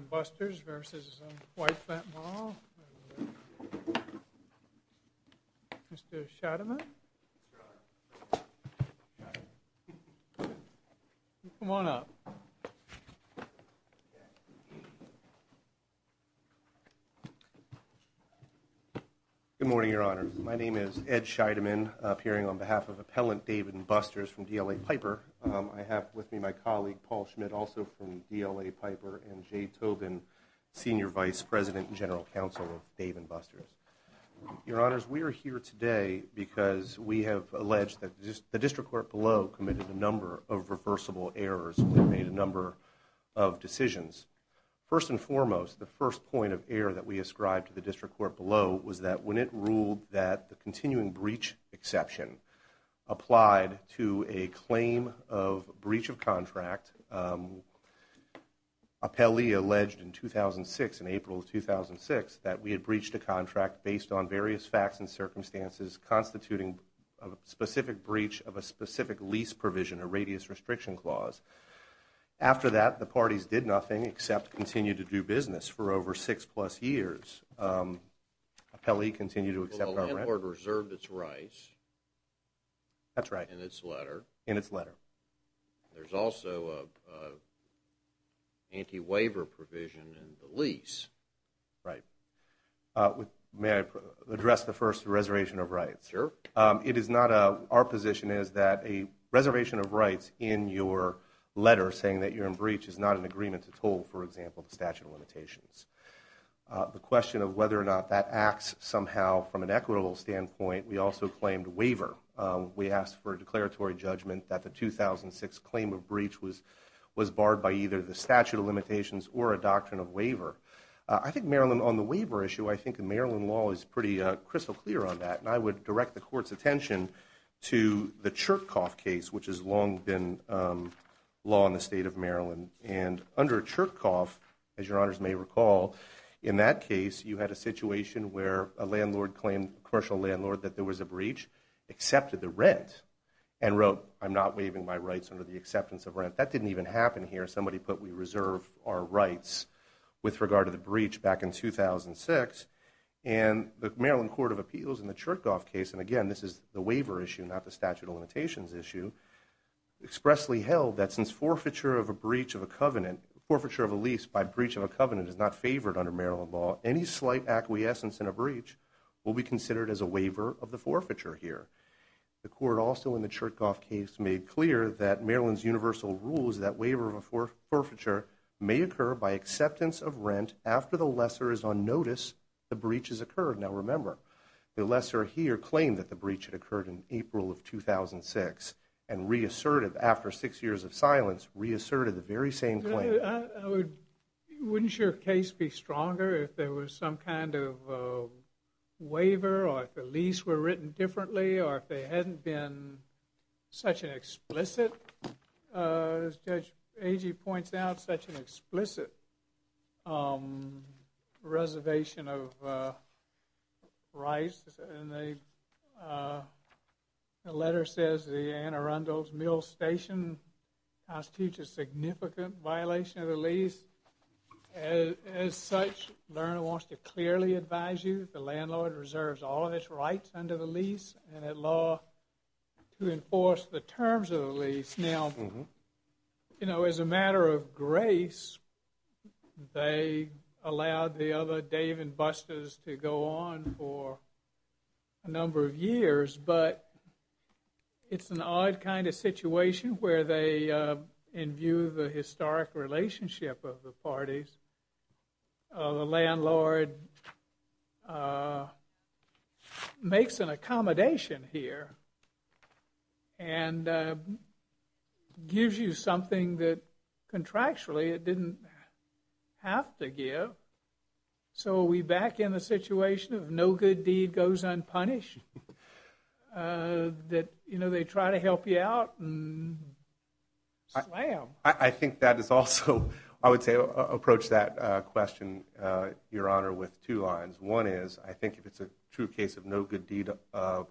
& Buster's v. White Flint Mall. Mr. Scheidemann. Come on up. Good morning, Your Honor. My name is Ed Scheidemann, appearing on behalf of Appellant David & Buster's from DLA Piper. I have with me my colleague Paul Schmidt, also from DLA Piper, and Jay Tobin, Senior Vice President and General Counsel of Dave & Buster's. Your Honors, we are here today because we have alleged that the District Court below committed a number of reversible errors and made a number of decisions. First and foremost, the first point of error that we ascribed to the District Court below was that when it ruled that the continuing breach exception applied to a claim of breach of contract, Appellee alleged in 2006, in April of 2006, that we had breached a contract based on various facts and circumstances constituting a specific breach of a specific lease provision, a radius restriction clause. After that, the parties did nothing except continue to do business for over six plus years. Appellee, continue to accept our grant. The landlord reserved its rights. That's right. In its letter. In its letter. There's also an anti-waiver provision in the lease. Right. May I address the first, the reservation of rights? Sure. It is not a, our position is that a reservation of rights in your letter saying that you're in breach is not an agreement at all, for example, the statute of limitations. The question of whether or not that acts somehow from an equitable standpoint, we also claimed waiver. We asked for a declaratory judgment that the 2006 claim of breach was barred by either the statute of limitations or a doctrine of waiver. I think Maryland, on the waiver issue, I think the Maryland law is pretty crystal clear on that. And I would direct the court's attention to the Chirkoff case, which has long been law in the state of Maryland. And under Chirkoff, as your honors may recall, in that case you had a situation where a landlord claimed, a commercial landlord, that there was a breach, accepted the rent and wrote, I'm not waiving my rights under the acceptance of rent. That didn't even happen here. Somebody put, we reserve our rights with regard to the breach back in 2006. And the Maryland Court of Appeals in the Chirkoff case, and again, this is the waiver issue, not the statute of limitations issue, expressly held that since forfeiture of a breach of a covenant, forfeiture of a lease by breach of a covenant is not favored under Maryland law, any slight acquiescence in a breach will be considered as a waiver of the forfeiture here. The court also in the Chirkoff case made clear that Maryland's universal rules, that waiver of a forfeiture may occur by acceptance of rent after the lesser is on notice the breach has occurred. Now remember, the lesser here claimed that the breach had occurred in April of 2006 and reasserted, after six years of silence, reasserted the very same claim. Wouldn't your case be stronger if there was some kind of waiver or if the lease were written differently or if there hadn't been such an explicit, as Judge Agee points out, such an explicit reservation of rights? And the letter says the Anne Arundel's Mill Station constitutes a significant violation of the lease. As such, Lerner wants to clearly advise you that the landlord reserves all of its rights under the lease and at law to enforce the terms of the lease. Now, you know, as a matter of grace, they allowed the other Dave and Busters to go on for a number of years, but it's an odd kind of situation where they imbue the historic relationship of the parties. The landlord makes an accommodation here and gives you something that contractually it didn't have to give. So are we back in the situation of no good deed goes unpunished? That, you know, they try to help you out and slam. I think that is also, I would say, approach that question, Your Honor, with two lines. One is, I think if it's a true case of no good deed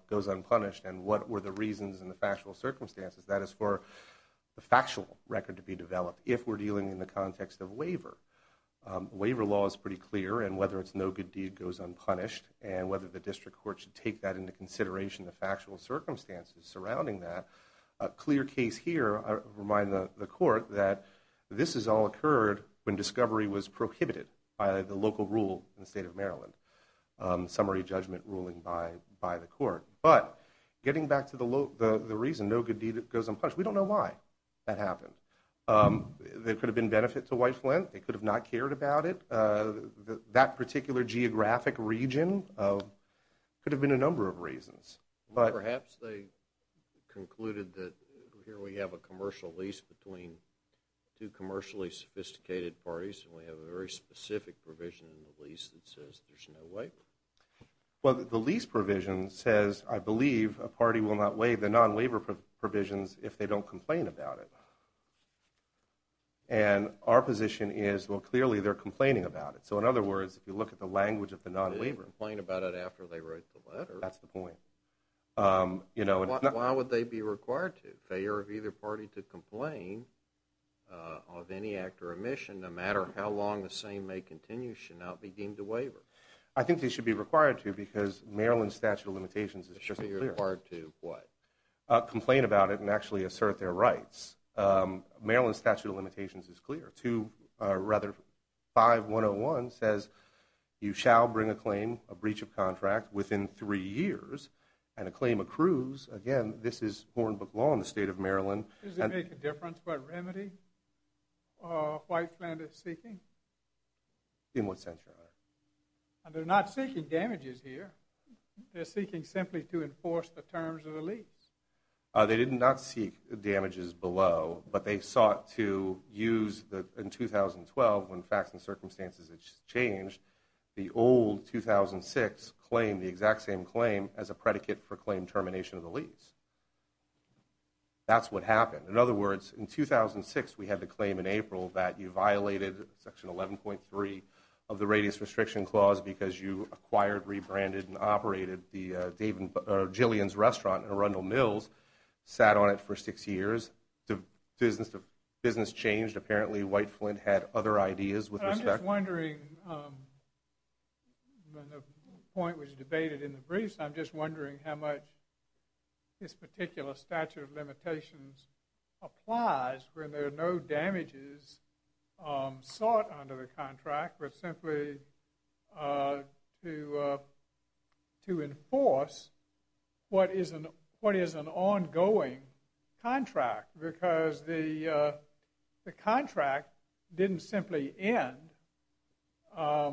goes unpunished and what were the reasons and the factual circumstances, that is for the factual record to be developed if we're dealing in the context of waiver. Waiver law is pretty clear and whether it's no good deed goes unpunished and whether the district court should take that into consideration, the factual circumstances surrounding that. A clear case here, I remind the court, that this has all occurred when discovery was prohibited by the local rule in the state of Maryland, summary judgment ruling by the court. But getting back to the reason no good deed goes unpunished, we don't know why that happened. There could have been benefit to White Flint. They could have not cared about it. That particular geographic region could have been a number of reasons. Perhaps they concluded that here we have a commercial lease between two commercially sophisticated parties and we have a very specific provision in the lease that says there's no way. Well, the lease provision says, I believe a party will not waive the non-waiver provisions if they don't complain about it. And our position is, well clearly they're complaining about it. So in other words, if you look at the language of the non-waiver. They didn't complain about it after they wrote the letter. That's the point. Why would they be required to? Failure of either party to complain of any act or omission no matter how long the same may continue should not be deemed a waiver. I think they should be required to because Maryland Statute of Limitations is just as clear. They should be required to what? Complain about it and actually assert their rights. Maryland Statute of Limitations is clear. 5-101 says you shall bring a claim, a breach of contract within three years. And a claim accrues, again, this is Hornbook law in the state of Maryland. Does it make a difference what remedy White Flint is seeking? In what sense, Your Honor? They're not seeking damages here. They're seeking simply to enforce the terms of the lease. They did not seek damages below, but they sought to use in 2012 when facts and circumstances had changed, the old 2006 claim, the exact same claim, as a predicate for claim termination of the lease. That's what happened. In other words, in 2006, we had the claim in April that you violated Section 11.3 of the Radius Restriction Clause because you acquired, rebranded, and operated Jillian's Restaurant in Arundel Mills, sat on it for six years. Business changed. Apparently, White Flint had other ideas with respect. I'm wondering, when the point was debated in the briefs, I'm just wondering how much this particular statute of limitations applies when there are no damages sought under the contract, but simply to enforce what is an ongoing contract because the contract didn't simply end. As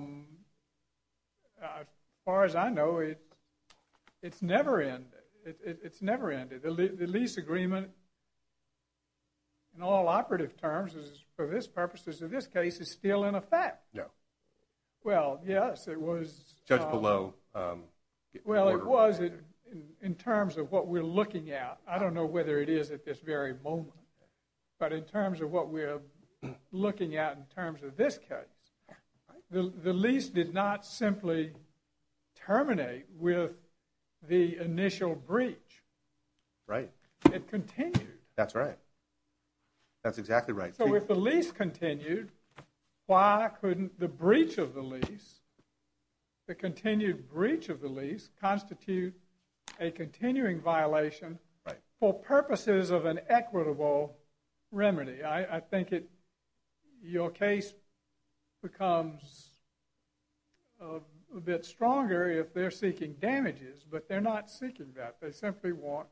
far as I know, it's never ended. It's never ended. The lease agreement, in all operative terms, for this purpose, as in this case, is still in effect. No. Well, yes, it was. Judge Below. Well, it was in terms of what we're looking at. I don't know whether it is at this very moment, but in terms of what we're looking at in terms of this case, the lease did not simply terminate with the initial breach. Right. It continued. That's right. That's exactly right. So if the lease continued, why couldn't the breach of the lease, the continued breach of the lease constitute a continuing violation for purposes of an equitable remedy? I think your case becomes a bit stronger if they're seeking damages, but they're not seeking that. They simply want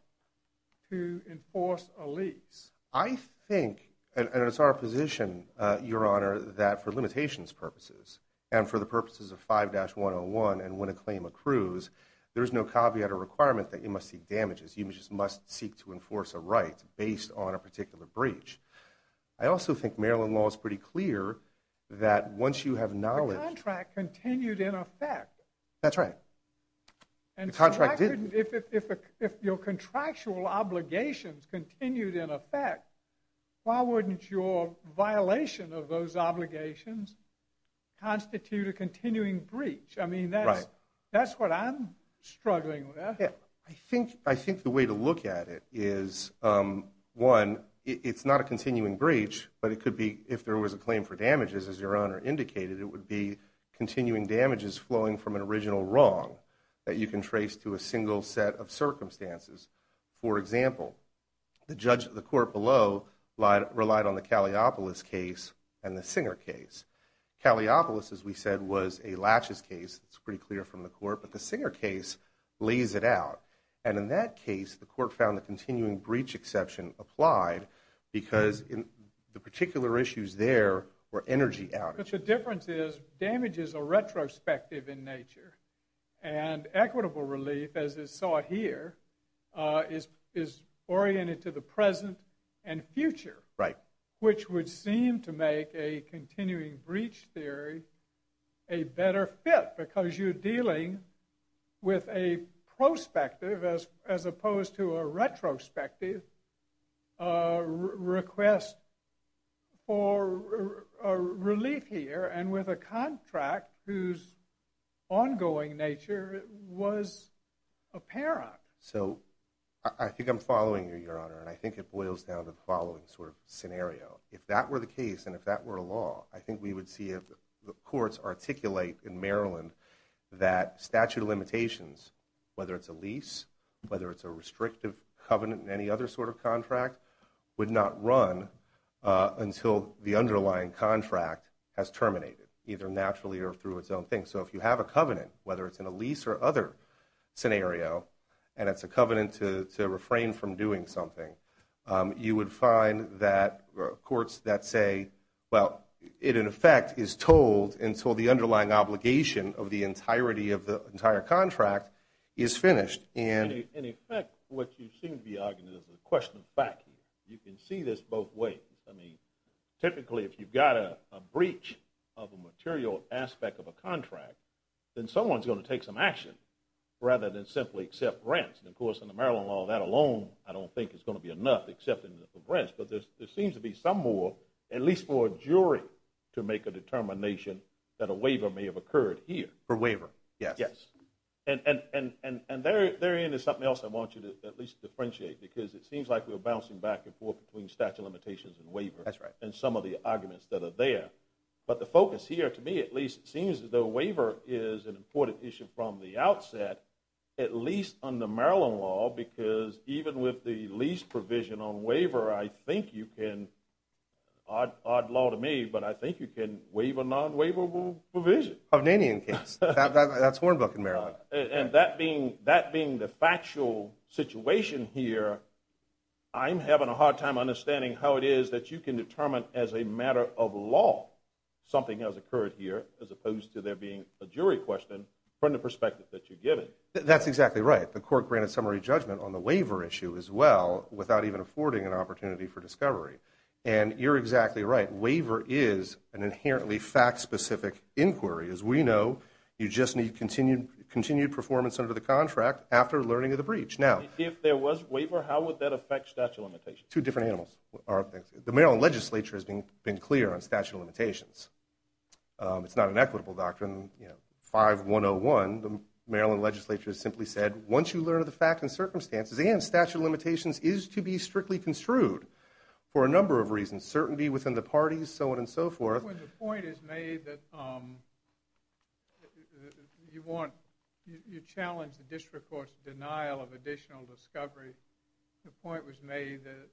to enforce a lease. I think, and it's our position, Your Honor, that for limitations purposes and for the purposes of 5-101 and when a claim accrues, there's no caveat or requirement that you must seek damages. You just must seek to enforce a right based on a particular breach. I also think Maryland law is pretty clear that once you have knowledge. The contract continued in effect. That's right. And if your contractual obligations continued in effect, why wouldn't your violation of those obligations constitute a continuing breach? I mean, that's what I'm struggling with. I think the way to look at it is, one, it's not a continuing breach, but it could be if there was a claim for damages, as Your Honor indicated, it would be continuing damages flowing from an original wrong that you can trace to a single set of circumstances. For example, the court below relied on the Kalliopoulos case and the Singer case. Kalliopoulos, as we said, was a laches case. It's pretty clear from the court. But the Singer case lays it out. And in that case, the court found the continuing breach exception applied because the particular issues there were energy outages. But the difference is, damages are retrospective in nature. And equitable relief, as is sought here, is oriented to the present and future, which would seem to make a continuing breach theory a better fit because you're dealing with a prospective, as opposed to a retrospective, request for relief here and with a contract whose ongoing nature was apparent. So I think I'm following you, Your Honor, and I think it boils down to the following sort of scenario. If that were the case and if that were a law, I think we would see the courts articulate in Maryland that statute of limitations, whether it's a lease, whether it's a restrictive covenant and any other sort of contract, would not run until the underlying contract has terminated, either naturally or through its own thing. So if you have a covenant, whether it's in a lease or other scenario, and it's a covenant to refrain from doing something, you would find that courts that say, well, it in effect is told until the underlying obligation of the entirety of the entire contract is finished. In effect, what you seem to be arguing is a question of fact. You can see this both ways. I mean, typically if you've got a breach of a material aspect of a contract, then someone's going to take some action rather than simply accept rents. And, of course, in the Maryland law, that alone I don't think is going to be enough except for rents. But there seems to be some more, at least for a jury, to make a determination that a waiver may have occurred here. A waiver, yes. And therein is something else I want you to at least differentiate because it seems like we're bouncing back and forth between statute of limitations and waiver. That's right. And some of the arguments that are there. But the focus here, to me at least, seems as though a waiver is an important issue from the outset, at least under Maryland law because even with the lease provision on waiver, I think you can – odd law to me, but I think you can waive a non-waivable provision. Hovnanian case. That's Hornbook in Maryland. And that being the factual situation here, I'm having a hard time understanding how it is that you can determine as a matter of law something has occurred here as opposed to there being a jury question from the perspective that you're given. That's exactly right. The court granted summary judgment on the waiver issue as well without even affording an opportunity for discovery. And you're exactly right. an inherently fact-specific inquiry. As we know, you just need continued performance under the contract after learning of the breach. If there was waiver, how would that affect statute of limitations? Two different animals. The Maryland legislature has been clear on statute of limitations. It's not an equitable doctrine. 5-101, the Maryland legislature simply said, once you learn of the fact and circumstances, and statute of limitations is to be strictly construed for a number of reasons. Uncertainty within the parties, so on and so forth. The point is made that you challenge the district court's denial of additional discovery. The point was made that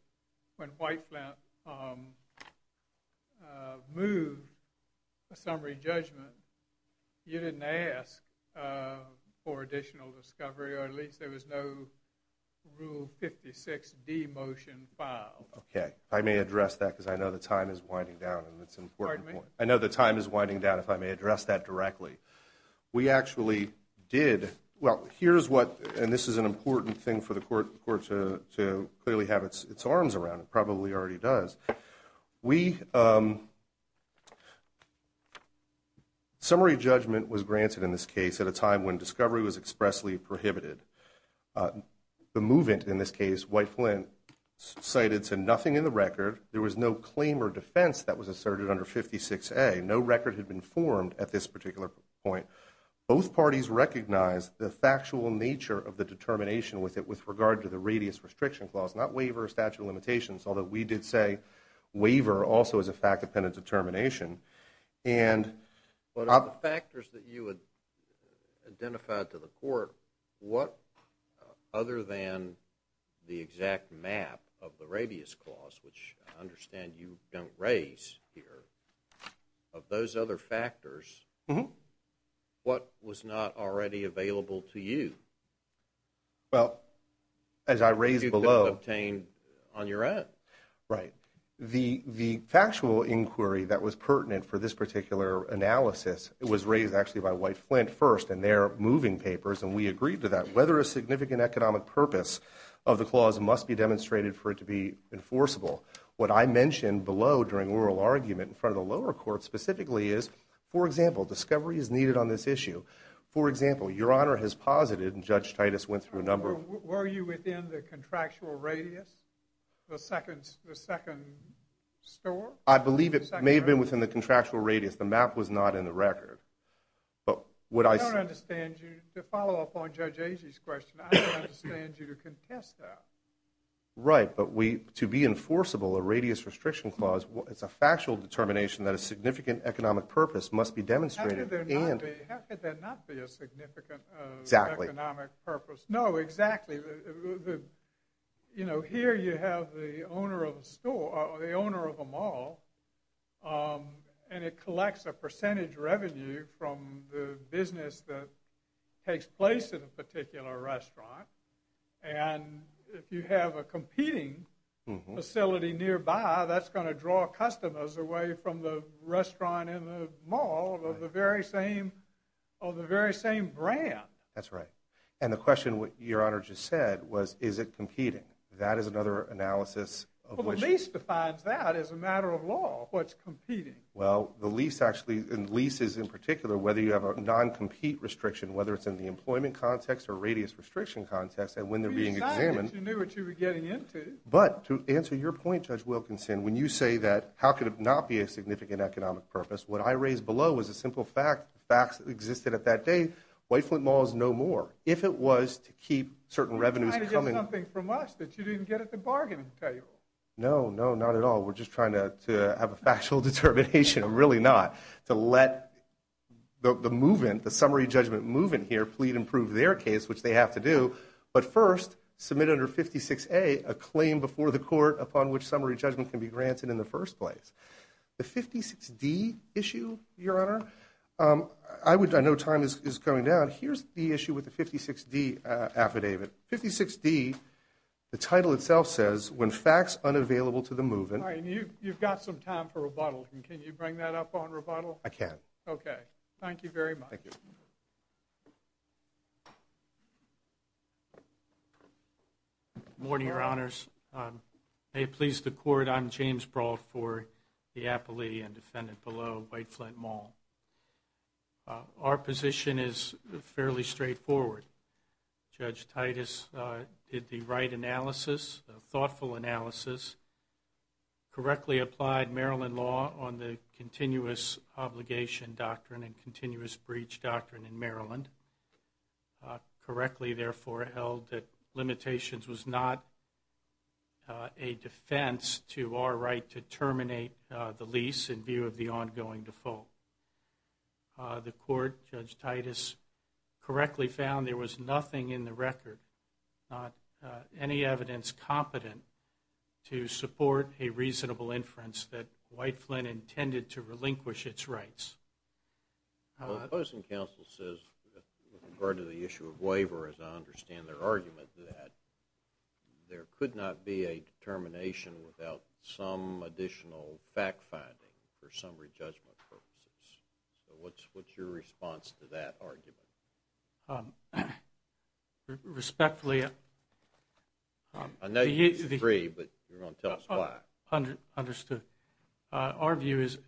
when Whiteflint moved a summary judgment, you didn't ask for additional discovery, or at least there was no Rule 56 demotion file. Okay. I may address that because I know the time is winding down. Pardon me? I know the time is winding down if I may address that directly. We actually did, well, here's what, and this is an important thing for the court to clearly have its arms around. It probably already does. Summary judgment was granted in this case at a time when discovery was expressly prohibited. The movement in this case, Whiteflint cited, said nothing in the record. There was no claim or defense that was asserted under 56A. No record had been formed at this particular point. Both parties recognized the factual nature of the determination with it with regard to the radius restriction clause, not waiver or statute of limitations, although we did say waiver also is a fact-dependent determination. But of the factors that you had identified to the court, what other than the exact map of the radius clause, which I understand you don't raise here, of those other factors, what was not already available to you? Well, as I raised below. You could have obtained on your own. Right. The factual inquiry that was pertinent for this particular analysis was raised actually by Whiteflint first in their moving papers, and we agreed to that. Whether a significant economic purpose of the clause must be demonstrated for it to be enforceable. What I mentioned below during oral argument in front of the lower court specifically is, for example, discovery is needed on this issue. For example, Your Honor has posited, and Judge Titus went through a number of… Were you within the contractual radius, the second store? I believe it may have been within the contractual radius. The map was not in the record. I don't understand you. To follow up on Judge Agee's question, I don't understand you to contest that. Right. But to be enforceable, a radius restriction clause, it's a factual determination that a significant economic purpose must be demonstrated. How could there not be a significant economic purpose? No, exactly. Here you have the owner of a mall, and it collects a percentage revenue from the business that takes place at a particular restaurant, and if you have a competing facility nearby, that's going to draw customers away from the restaurant and the mall of the very same brand. That's right. And the question Your Honor just said was, is it competing? That is another analysis of which… Well, the lease defines that as a matter of law, what's competing. Well, the lease actually, and leases in particular, whether you have a non-compete restriction, whether it's in the employment context or radius restriction context, and when they're being examined… We decided you knew what you were getting into. But to answer your point, Judge Wilkinson, when you say that how could it not be a significant economic purpose, what I raised below was a simple fact, the facts that existed at that day. White Flint Mall is no more. If it was to keep certain revenues coming… You're trying to get something from us that you didn't get at the bargaining table. No, no, not at all. We're just trying to have a factual determination. I'm really not. To let the movement, the summary judgment movement here, plead and prove their case, which they have to do, but first submit under 56A a claim before the court upon which summary judgment can be granted in the first place. The 56D issue, Your Honor, I know time is coming down. Here's the issue with the 56D affidavit. 56D, the title itself says, when facts unavailable to the movement… All right, you've got some time for rebuttal. Can you bring that up on rebuttal? I can. Okay. Thank you very much. Thank you. Good morning, Your Honors. May it please the Court, I'm John James Brault for the appellee and defendant below, White Flint Mall. Our position is fairly straightforward. Judge Titus did the right analysis, thoughtful analysis, correctly applied Maryland law on the continuous obligation doctrine and continuous breach doctrine in Maryland, correctly, therefore, held that limitations was not a defense to our right to terminate the lease in view of the ongoing default. The Court, Judge Titus, correctly found there was nothing in the record, any evidence competent to support a reasonable inference that White Flint intended to relinquish its rights. The opposing counsel says, with regard to the issue of waiver, as I understand their argument, that there could not be a determination without some additional fact-finding for summary judgment purposes. So what's your response to that argument? Respectfully… I know you disagree, but you're going to tell us why. Understood. Our view is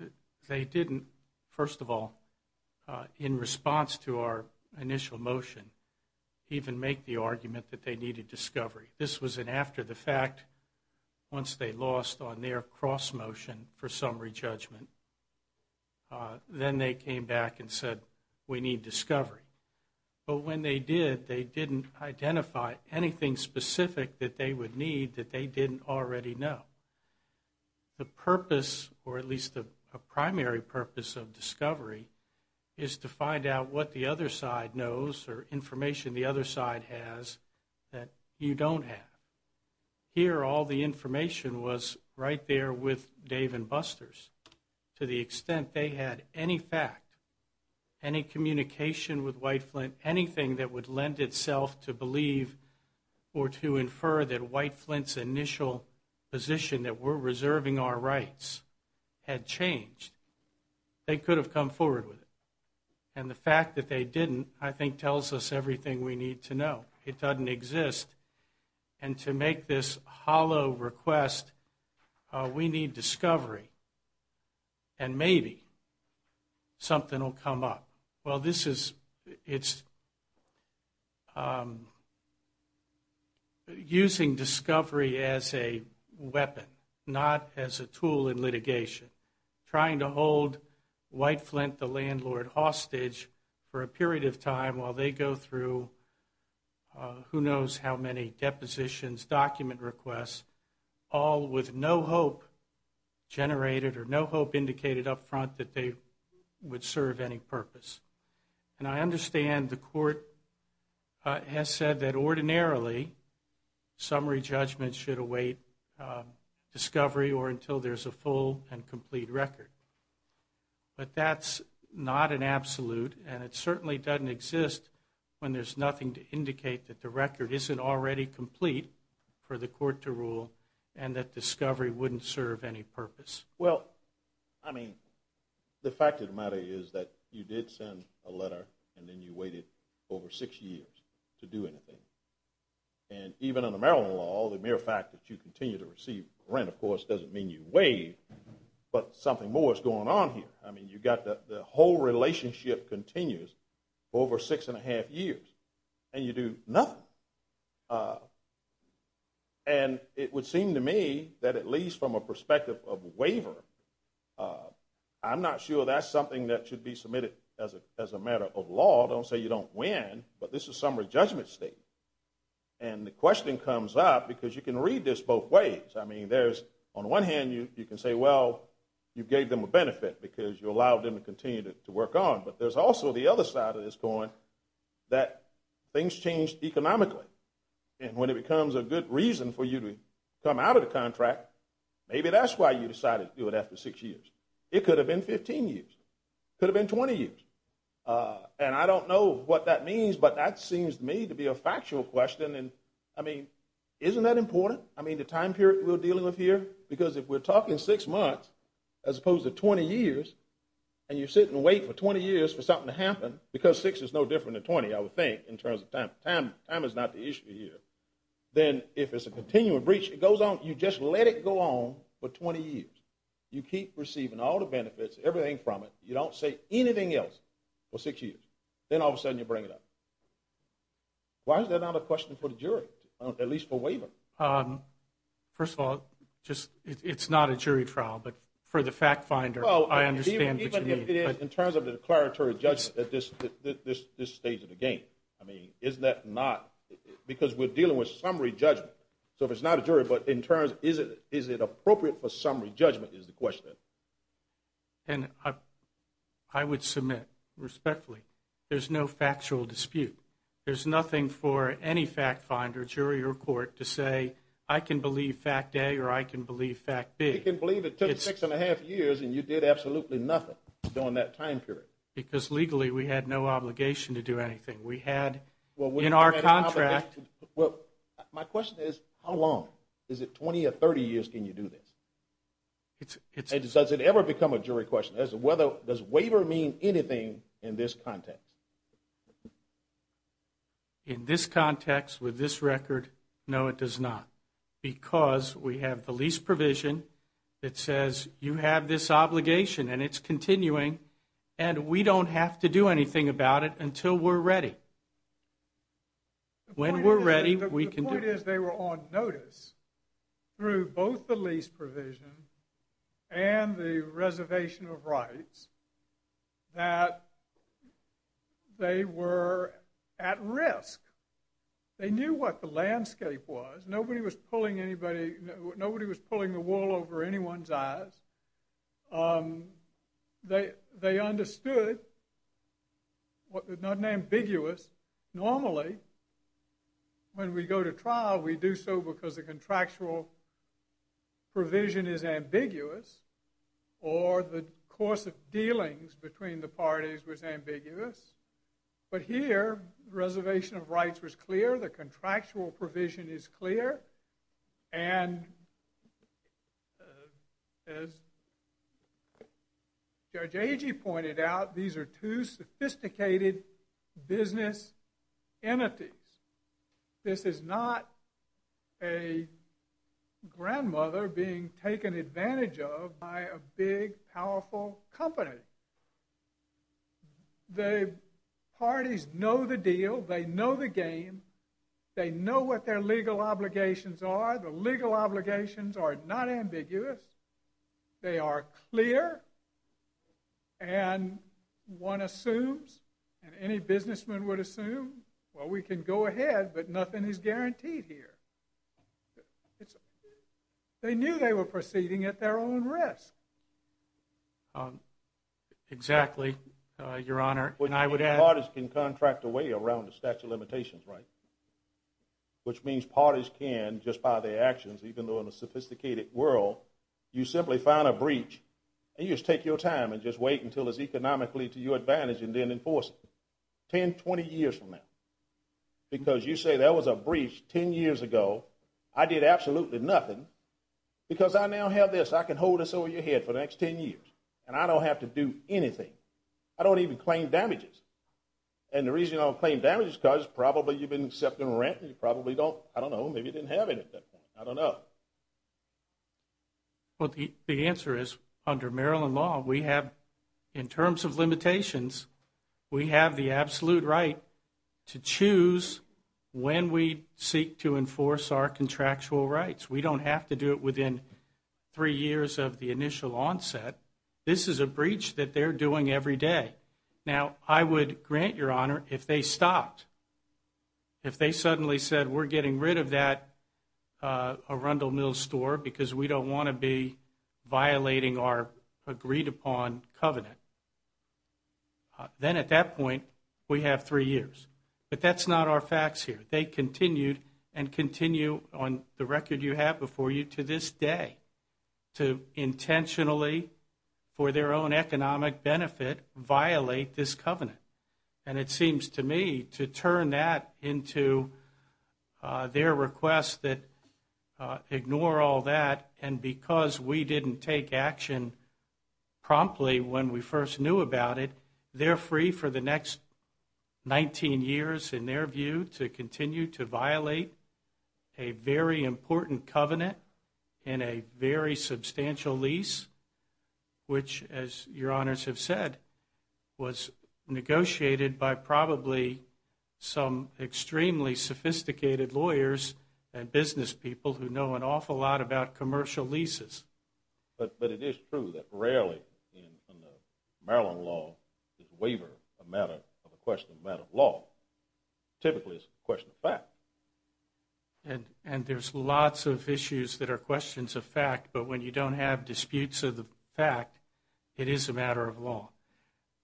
they didn't, first of all, in response to our initial motion, even make the argument that they needed discovery. This was an after-the-fact, once they lost on their cross-motion for summary judgment. Then they came back and said, we need discovery. But when they did, they didn't identify anything specific that they would need that they didn't already know. The purpose, or at least a primary purpose of discovery, is to find out what the other side knows or information the other side has that you don't have. Here, all the information was right there with Dave and Busters to the extent they had any fact, any communication with White Flint, anything that would lend itself to believe or to infer that White Flint's initial position that we're reserving our rights had changed. They could have come forward with it. And the fact that they didn't, I think, tells us everything we need to know. It doesn't exist. And to make this hollow request, we need discovery. And maybe something will come up. Well, this is using discovery as a weapon, not as a tool in litigation. Trying to hold White Flint, the landlord, hostage for a period of time while they go through who knows how many depositions, document requests, all with no hope generated or no hope indicated up front that they would serve any purpose. And I understand the court has said that ordinarily summary judgment should await discovery or until there's a full and complete record. But that's not an absolute, and it certainly doesn't exist when there's nothing to indicate that the record isn't already complete for the court to rule and that discovery wouldn't serve any purpose. Well, I mean, the fact of the matter is that you did send a letter and then you waited over six years to do anything. And even under Maryland law, the mere fact that you continue to receive rent, of course, doesn't mean you waived. But something more is going on here. I mean, you've got the whole relationship continues for over six and a half years, and you do nothing. And it would seem to me that at least from a perspective of waiver, I'm not sure that's something that should be submitted as a matter of law. Don't say you don't win, but this is a summary judgment statement. And the question comes up, because you can read this both ways. I mean, there's on one hand you can say, well, you gave them a benefit because you allowed them to continue to work on. But there's also the other side of this going, that things change economically. And when it becomes a good reason for you to come out of the contract, maybe that's why you decided to do it after six years. It could have been 15 years. It could have been 20 years. And I don't know what that means, but that seems to me to be a factual question. And, I mean, isn't that important? I mean, the time period we're dealing with here? Because if we're talking six months as opposed to 20 years, and you sit and wait for 20 years for something to happen, because six is no different than 20, I would think, in terms of time. Time is not the issue here. Then if it's a continuing breach, you just let it go on for 20 years. You keep receiving all the benefits, everything from it. You don't say anything else for six years. Then all of a sudden you bring it up. Why is that not a question for the jury, at least for waiver? First of all, it's not a jury trial. But for the fact finder, I understand what you mean. In terms of the declaratory judgment at this stage of the game. I mean, isn't that not? Because we're dealing with summary judgment. So if it's not a jury, but in terms, is it appropriate for summary judgment is the question. And I would submit, respectfully, there's no factual dispute. There's nothing for any fact finder, jury, or court to say, I can believe fact A or I can believe fact B. I can believe it took six and a half years and you did absolutely nothing during that time period. Because legally we had no obligation to do anything. We had in our contract. My question is, how long? Is it 20 or 30 years can you do this? Does it ever become a jury question? Does waiver mean anything in this context? In this context, with this record, no, it does not. Because we have the lease provision that says you have this obligation and it's continuing. And we don't have to do anything about it until we're ready. When we're ready, we can do it. The point is they were on notice through both the lease provision and the reservation of rights. That they were at risk. They knew what the landscape was. Nobody was pulling the wool over anyone's eyes. They understood. It's not ambiguous. Normally, when we go to trial, we do so because the contractual provision is ambiguous. Or the course of dealings between the parties was ambiguous. But here, reservation of rights was clear. The contractual provision is clear. And as Judge Agee pointed out, these are two sophisticated business entities. This is not a grandmother being taken advantage of by a big, powerful company. The parties know the deal. They know the game. They know what their legal obligations are. The legal obligations are not ambiguous. They are clear. And one assumes, and any businessman would assume, well, we can go ahead, but nothing is guaranteed here. They knew they were proceeding at their own risk. Exactly, Your Honor. And parties can contract a way around the statute of limitations, right? Which means parties can, just by their actions, even though in a sophisticated world, you simply find a breach and you just take your time and just wait until it's economically to your advantage and then enforce it 10, 20 years from now. Because you say, that was a breach 10 years ago. I did absolutely nothing because I now have this. I can hold this over your head for the next 10 years, and I don't have to do anything. I don't even claim damages. And the reason I don't claim damages is because probably you've been accepting rent and you probably don't, I don't know, maybe you didn't have it at that point. I don't know. Well, the answer is, under Maryland law, we have, in terms of limitations, we have the absolute right to choose when we seek to enforce our contractual rights. We don't have to do it within three years of the initial onset. This is a breach that they're doing every day. Now, I would grant your honor, if they stopped, if they suddenly said, we're getting rid of that Arundel Mills store because we don't want to be violating our agreed upon covenant, then at that point, we have three years. But that's not our facts here. They continued and continue on the record you have before you to this day to intentionally, for their own economic benefit, violate this covenant. And it seems to me to turn that into their request that ignore all that, and because we didn't take action promptly when we first knew about it, they're free for the next 19 years, in their view, to continue to violate a very important covenant in a very substantial lease, which, as your honors have said, was negotiated by probably some extremely sophisticated lawyers and business people who know an awful lot about commercial leases. But it is true that rarely in Maryland law is waiver a matter of a question of matter of law. Typically, it's a question of fact. And there's lots of issues that are questions of fact, but when you don't have disputes of the fact, it is a matter of law.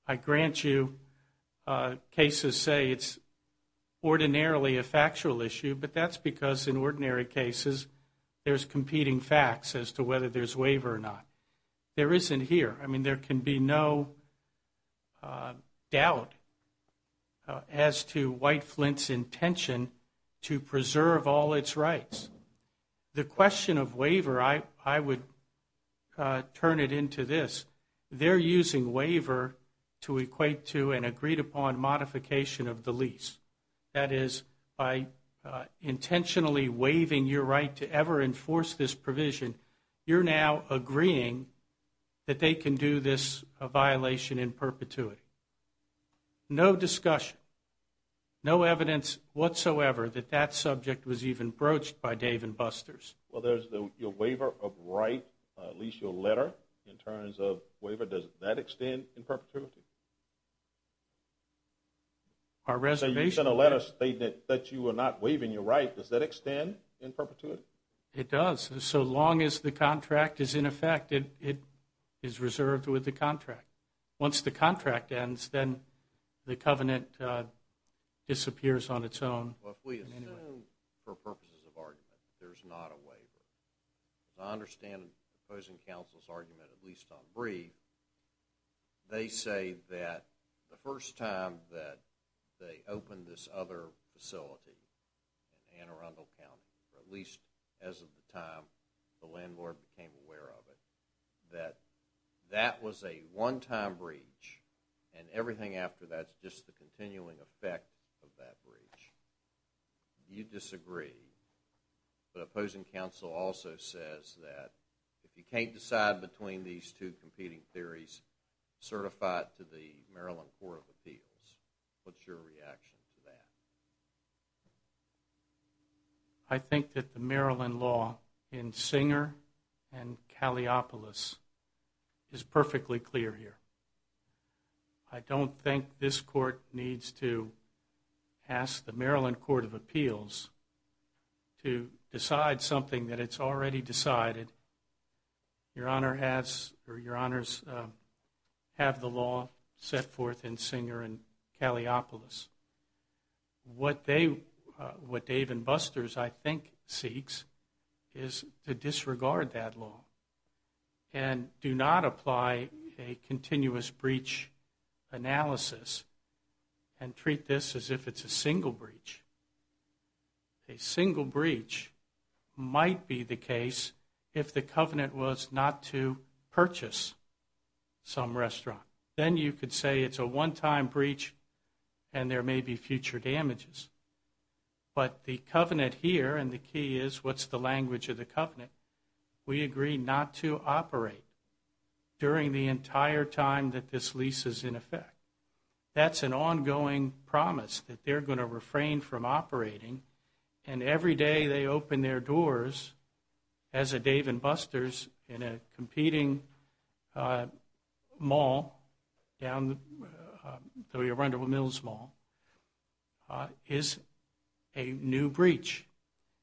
I grant you cases say it's ordinarily a factual issue, but that's because in ordinary cases there's competing facts as to whether there's waiver or not. There isn't here. I mean, there can be no doubt as to White Flint's intention to preserve all its rights. The question of waiver, I would turn it into this. They're using waiver to equate to an agreed-upon modification of the lease. That is, by intentionally waiving your right to ever enforce this provision, you're now agreeing that they can do this violation in perpetuity. No discussion, no evidence whatsoever that that subject was even broached by Dave and Buster's. Well, your waiver of right, at least your letter in terms of waiver, does that extend in perpetuity? You sent a letter stating that you were not waiving your right. Does that extend in perpetuity? It does. So long as the contract is in effect, it is reserved with the contract. Once the contract ends, then the covenant disappears on its own. Well, if we assume for purposes of argument that there's not a waiver, as I understand the opposing counsel's argument, at least on brief, they say that the first time that they opened this other facility in Anne Arundel County, or at least as of the time the landlord became aware of it, that that was a one-time breach and everything after that is just the continuing effect of that breach. You disagree. The opposing counsel also says that if you can't decide between these two competing theories, certify it to the Maryland Court of Appeals. What's your reaction to that? I think that the Maryland law in Singer and Kaleopolis is perfectly clear here. I don't think this court needs to ask the Maryland Court of Appeals to decide something that it's already decided. Your Honors have the law set forth in Singer and Kaleopolis. What Dave and Buster's, I think, seeks is to disregard that law and do not apply a continuous breach analysis and treat this as if it's a single breach. A single breach might be the case if the covenant was not to purchase some restaurant. Then you could say it's a one-time breach and there may be future damages. But the covenant here, and the key is what's the language of the covenant, we agree not to operate during the entire time that this lease is in effect. That's an ongoing promise that they're going to refrain from operating, and every day they open their doors as a Dave and Buster's in a competing mall, down to the Rundle Mills Mall, is a new breach.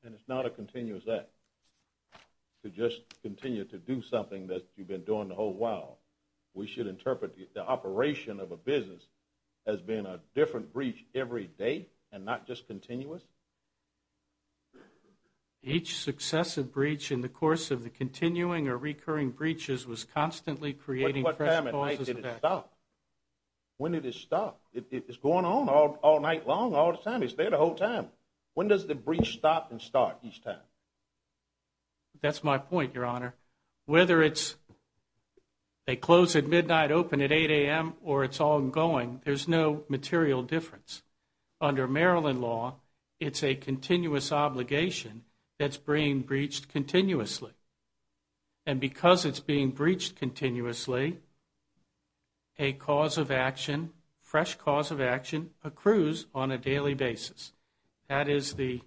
And it's not a continuous act to just continue to do something that you've been doing a whole while. We should interpret the operation of a business as being a different breach every day and not just continuous? Each successive breach in the course of the continuing or recurring breaches was constantly creating fresh causes. When did it stop? When did it stop? It's going on all night long, all the time. It's there the whole time. When does the breach stop and start each time? That's my point, Your Honor. Whether it's they close at midnight, open at 8 a.m., or it's ongoing, there's no material difference. Under Maryland law, it's a continuous obligation that's being breached continuously. And because it's being breached continuously, a cause of action, fresh cause of action, accrues on a daily basis. That is the,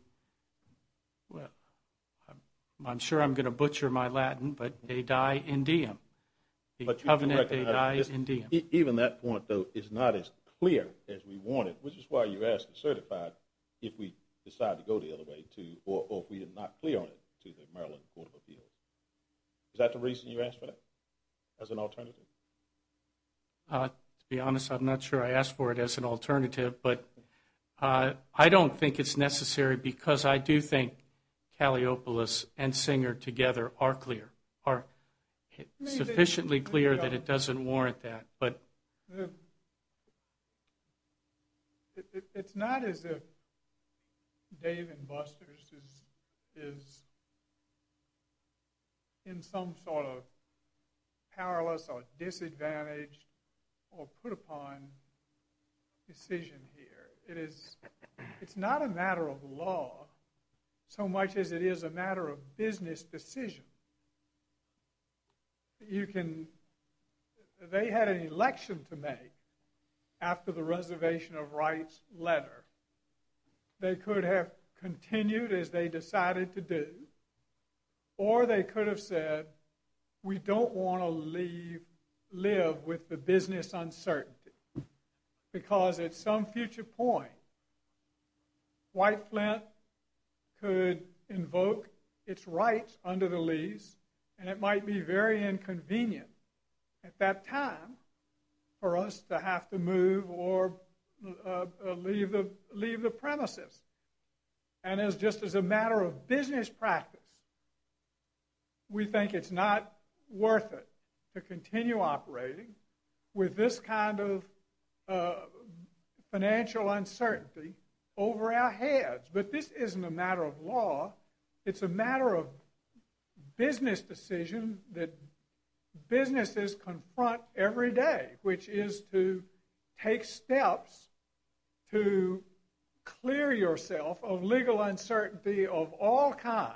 well, I'm sure I'm going to butcher my Latin, but they die in diem. The covenant, they die in diem. Even that point, though, is not as clear as we want it, which is why you asked to certify if we decide to go the other way, or if we are not clear on it to the Maryland Court of Appeals. Is that the reason you asked for that, as an alternative? To be honest, I'm not sure I asked for it as an alternative, but I don't think it's necessary because I do think Calliopolis and Singer together are clear, are sufficiently clear that it doesn't warrant that. But it's not as if Dave and Buster's is in some sort of powerless or disadvantaged or put upon decision here. It's not a matter of law so much as it is a matter of business decision. You can, they had an election to make after the Reservation of Rights letter. They could have continued as they decided to do, or they could have said, we don't want to live with the business uncertainty because at some future point, White Flint could invoke its rights under the lease, and it might be very inconvenient at that time for us to have to move or leave the premises. And just as a matter of business practice, we think it's not worth it to continue operating with this kind of financial uncertainty over our heads. But this isn't a matter of law. It's a matter of business decision that businesses confront every day, which is to take steps to clear yourself of legal uncertainty of all kinds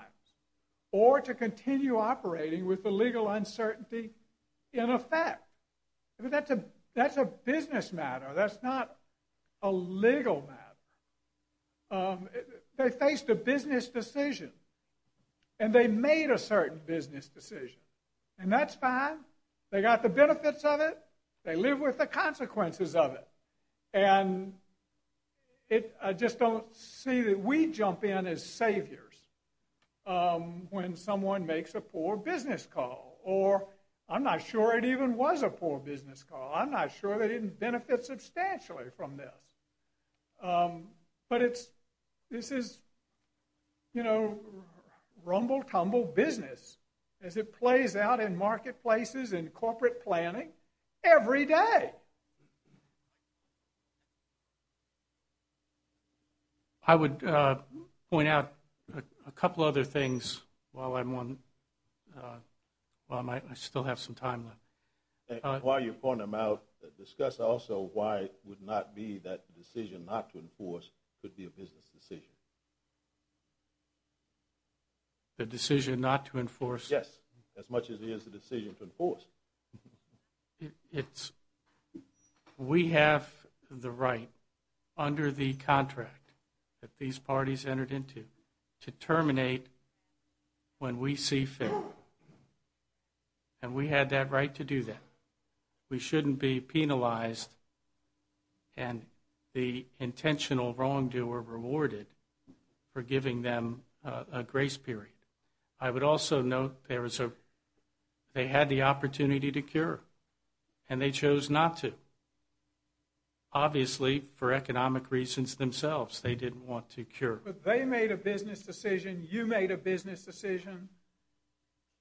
or to continue operating with the legal uncertainty in effect. That's a business matter. That's not a legal matter. They faced a business decision, and they made a certain business decision, and that's fine. They got the benefits of it. They live with the consequences of it. And I just don't see that we jump in as saviors when someone makes a poor business call, or I'm not sure it even was a poor business call. I'm not sure they didn't benefit substantially from this. But this is rumble-tumble business as it plays out in marketplaces and corporate planning every day. I would point out a couple other things while I still have some time left. While you point them out, discuss also why it would not be that the decision not to enforce could be a business decision. The decision not to enforce? Yes, as much as it is the decision to enforce. We have the right under the contract that these parties entered into to terminate when we see fit. And we had that right to do that. We shouldn't be penalized and the intentional wrongdoer rewarded for giving them a grace period. I would also note they had the opportunity to cure, and they chose not to. Obviously, for economic reasons themselves, they didn't want to cure. But they made a business decision. You made a business decision.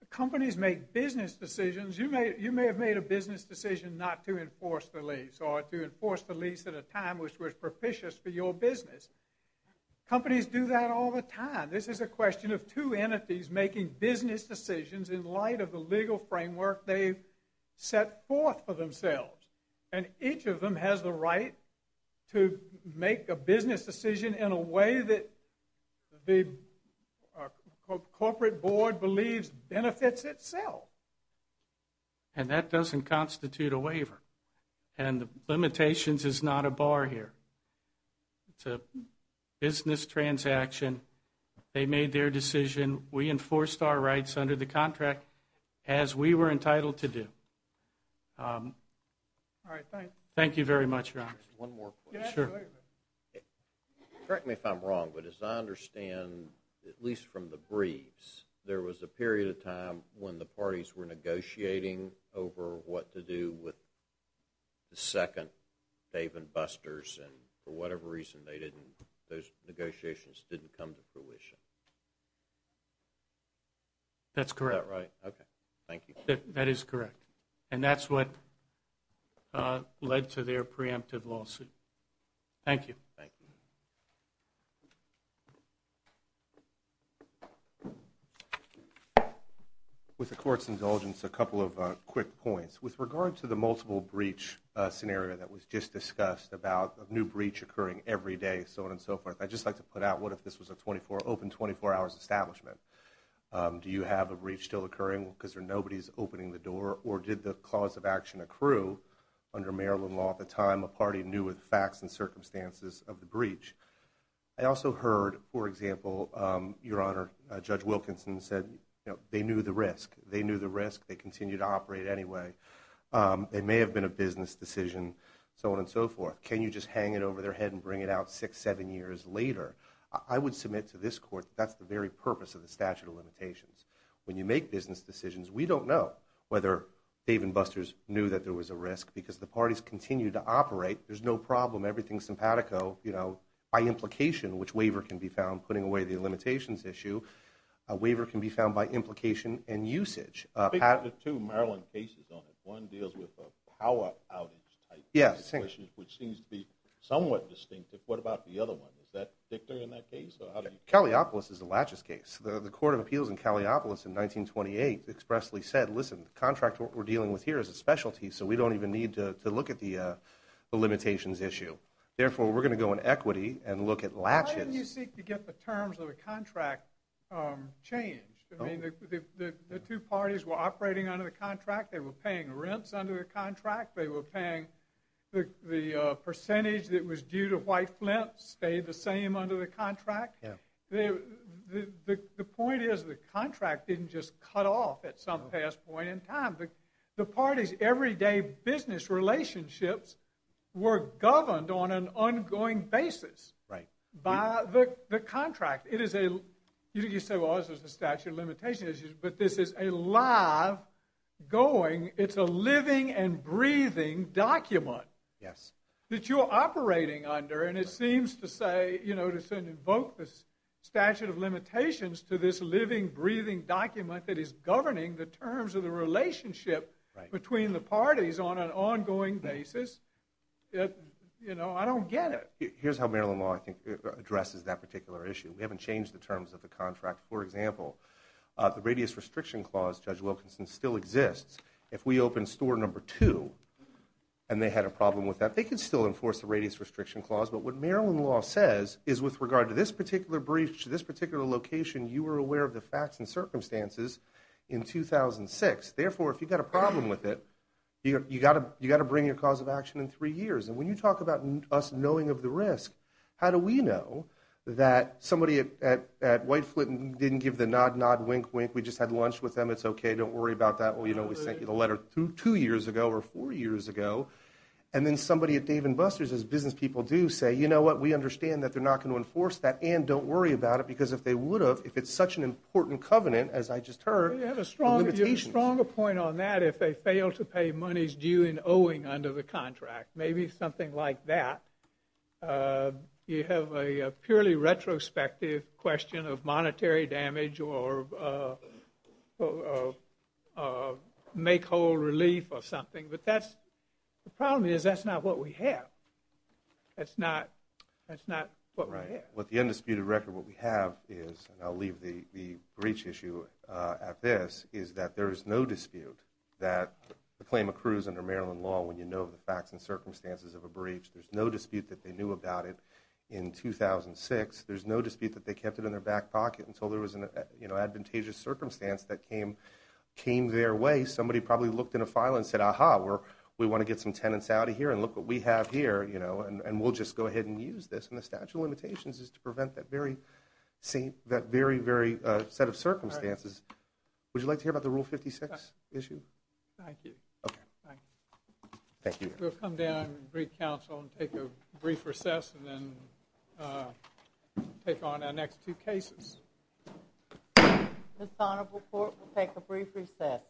Companies make business decisions. You may have made a business decision not to enforce the lease or to enforce the lease at a time which was propitious for your business. Companies do that all the time. This is a question of two entities making business decisions in light of the legal framework they've set forth for themselves. And each of them has the right to make a business decision in a way that the corporate board believes benefits itself. And that doesn't constitute a waiver. And limitations is not a bar here. It's a business transaction. They made their decision. We enforced our rights under the contract as we were entitled to do. All right, thank you. Thank you very much, Your Honor. One more question. Sure. Correct me if I'm wrong, but as I understand, at least from the briefs, there was a period of time when the parties were negotiating over what to do with the second Dave and Busters. And for whatever reason, those negotiations didn't come to fruition. That's correct. Is that right? Okay, thank you. That is correct. And that's what led to their preemptive lawsuit. Thank you. Thank you. With the Court's indulgence, a couple of quick points. With regard to the multiple breach scenario that was just discussed, about a new breach occurring every day, so on and so forth, I'd just like to put out what if this was an open 24-hour establishment? Do you have a breach still occurring because nobody's opening the door? Or did the cause of action accrue? Under Maryland law at the time, a party knew the facts and circumstances of the breach. I also heard, for example, Your Honor, Judge Wilkinson said they knew the risk. They knew the risk. They continue to operate anyway. It may have been a business decision, so on and so forth. Can you just hang it over their head and bring it out six, seven years later? I would submit to this Court that that's the very purpose of the statute of limitations. When you make business decisions, we don't know whether Dave and Busters knew that there was a risk because the parties continue to operate. There's no problem. Everything's simpatico, you know, by implication, which waiver can be found putting away the limitations issue. A waiver can be found by implication and usage. There are two Maryland cases on it. One deals with a power outage type question, which seems to be somewhat distinctive. What about the other one? Is that dictated in that case? Calliopolis is a laches case. The Court of Appeals in Calliopolis in 1928 expressly said, listen, the contract we're dealing with here is a specialty, so we don't even need to look at the limitations issue. Therefore, we're going to go in equity and look at laches. Why didn't you seek to get the terms of the contract changed? I mean, the two parties were operating under the contract. They were paying rents under the contract. They were paying the percentage that was due to White Flint stayed the same under the contract. The point is the contract didn't just cut off at some past point in time. The parties' everyday business relationships were governed on an ongoing basis by the contract. You say, well, this is a statute of limitations issue, but this is a live, going, it's a living and breathing document that you're operating under, and it seems to say, to invoke the statute of limitations to this living, breathing document that is governing the terms of the relationship between the parties on an ongoing basis. I don't get it. Here's how Maryland law, I think, addresses that particular issue. We haven't changed the terms of the contract. For example, the radius restriction clause, Judge Wilkinson, still exists. If we open store number two and they had a problem with that, they could still enforce the radius restriction clause. But what Maryland law says is with regard to this particular breach, this particular location, you were aware of the facts and circumstances in 2006. Therefore, if you've got a problem with it, you've got to bring your cause of action in three years. And when you talk about us knowing of the risk, how do we know that somebody at White Flint didn't give the nod, nod, wink, wink. We just had lunch with them. It's okay. Don't worry about that. We sent you the letter two years ago or four years ago. And then somebody at Dave & Buster's, as business people do, say, you know what, we understand that they're not going to enforce that, and don't worry about it, because if they would have, if it's such an important covenant, as I just heard, the limitations. You have a stronger point on that if they fail to pay monies due in owing under the contract, maybe something like that. You have a purely retrospective question of monetary damage or make whole relief or something. But that's, the problem is that's not what we have. That's not what we have. Right. With the undisputed record, what we have is, and I'll leave the breach issue at this, is that there is no dispute that the claim accrues under Maryland law when you know the facts and circumstances of a breach. There's no dispute that they knew about it in 2006. There's no dispute that they kept it in their back pocket until there was an advantageous circumstance that came their way. Somebody probably looked in a file and said, ah-ha, we want to get some tenants out of here and look what we have here, and we'll just go ahead and use this. And the statute of limitations is to prevent that very set of circumstances. Would you like to hear about the Rule 56 issue? Thank you. Okay. Thank you. We'll come down and greet counsel and take a brief recess and then take on our next two cases. This honorable court will take a brief recess.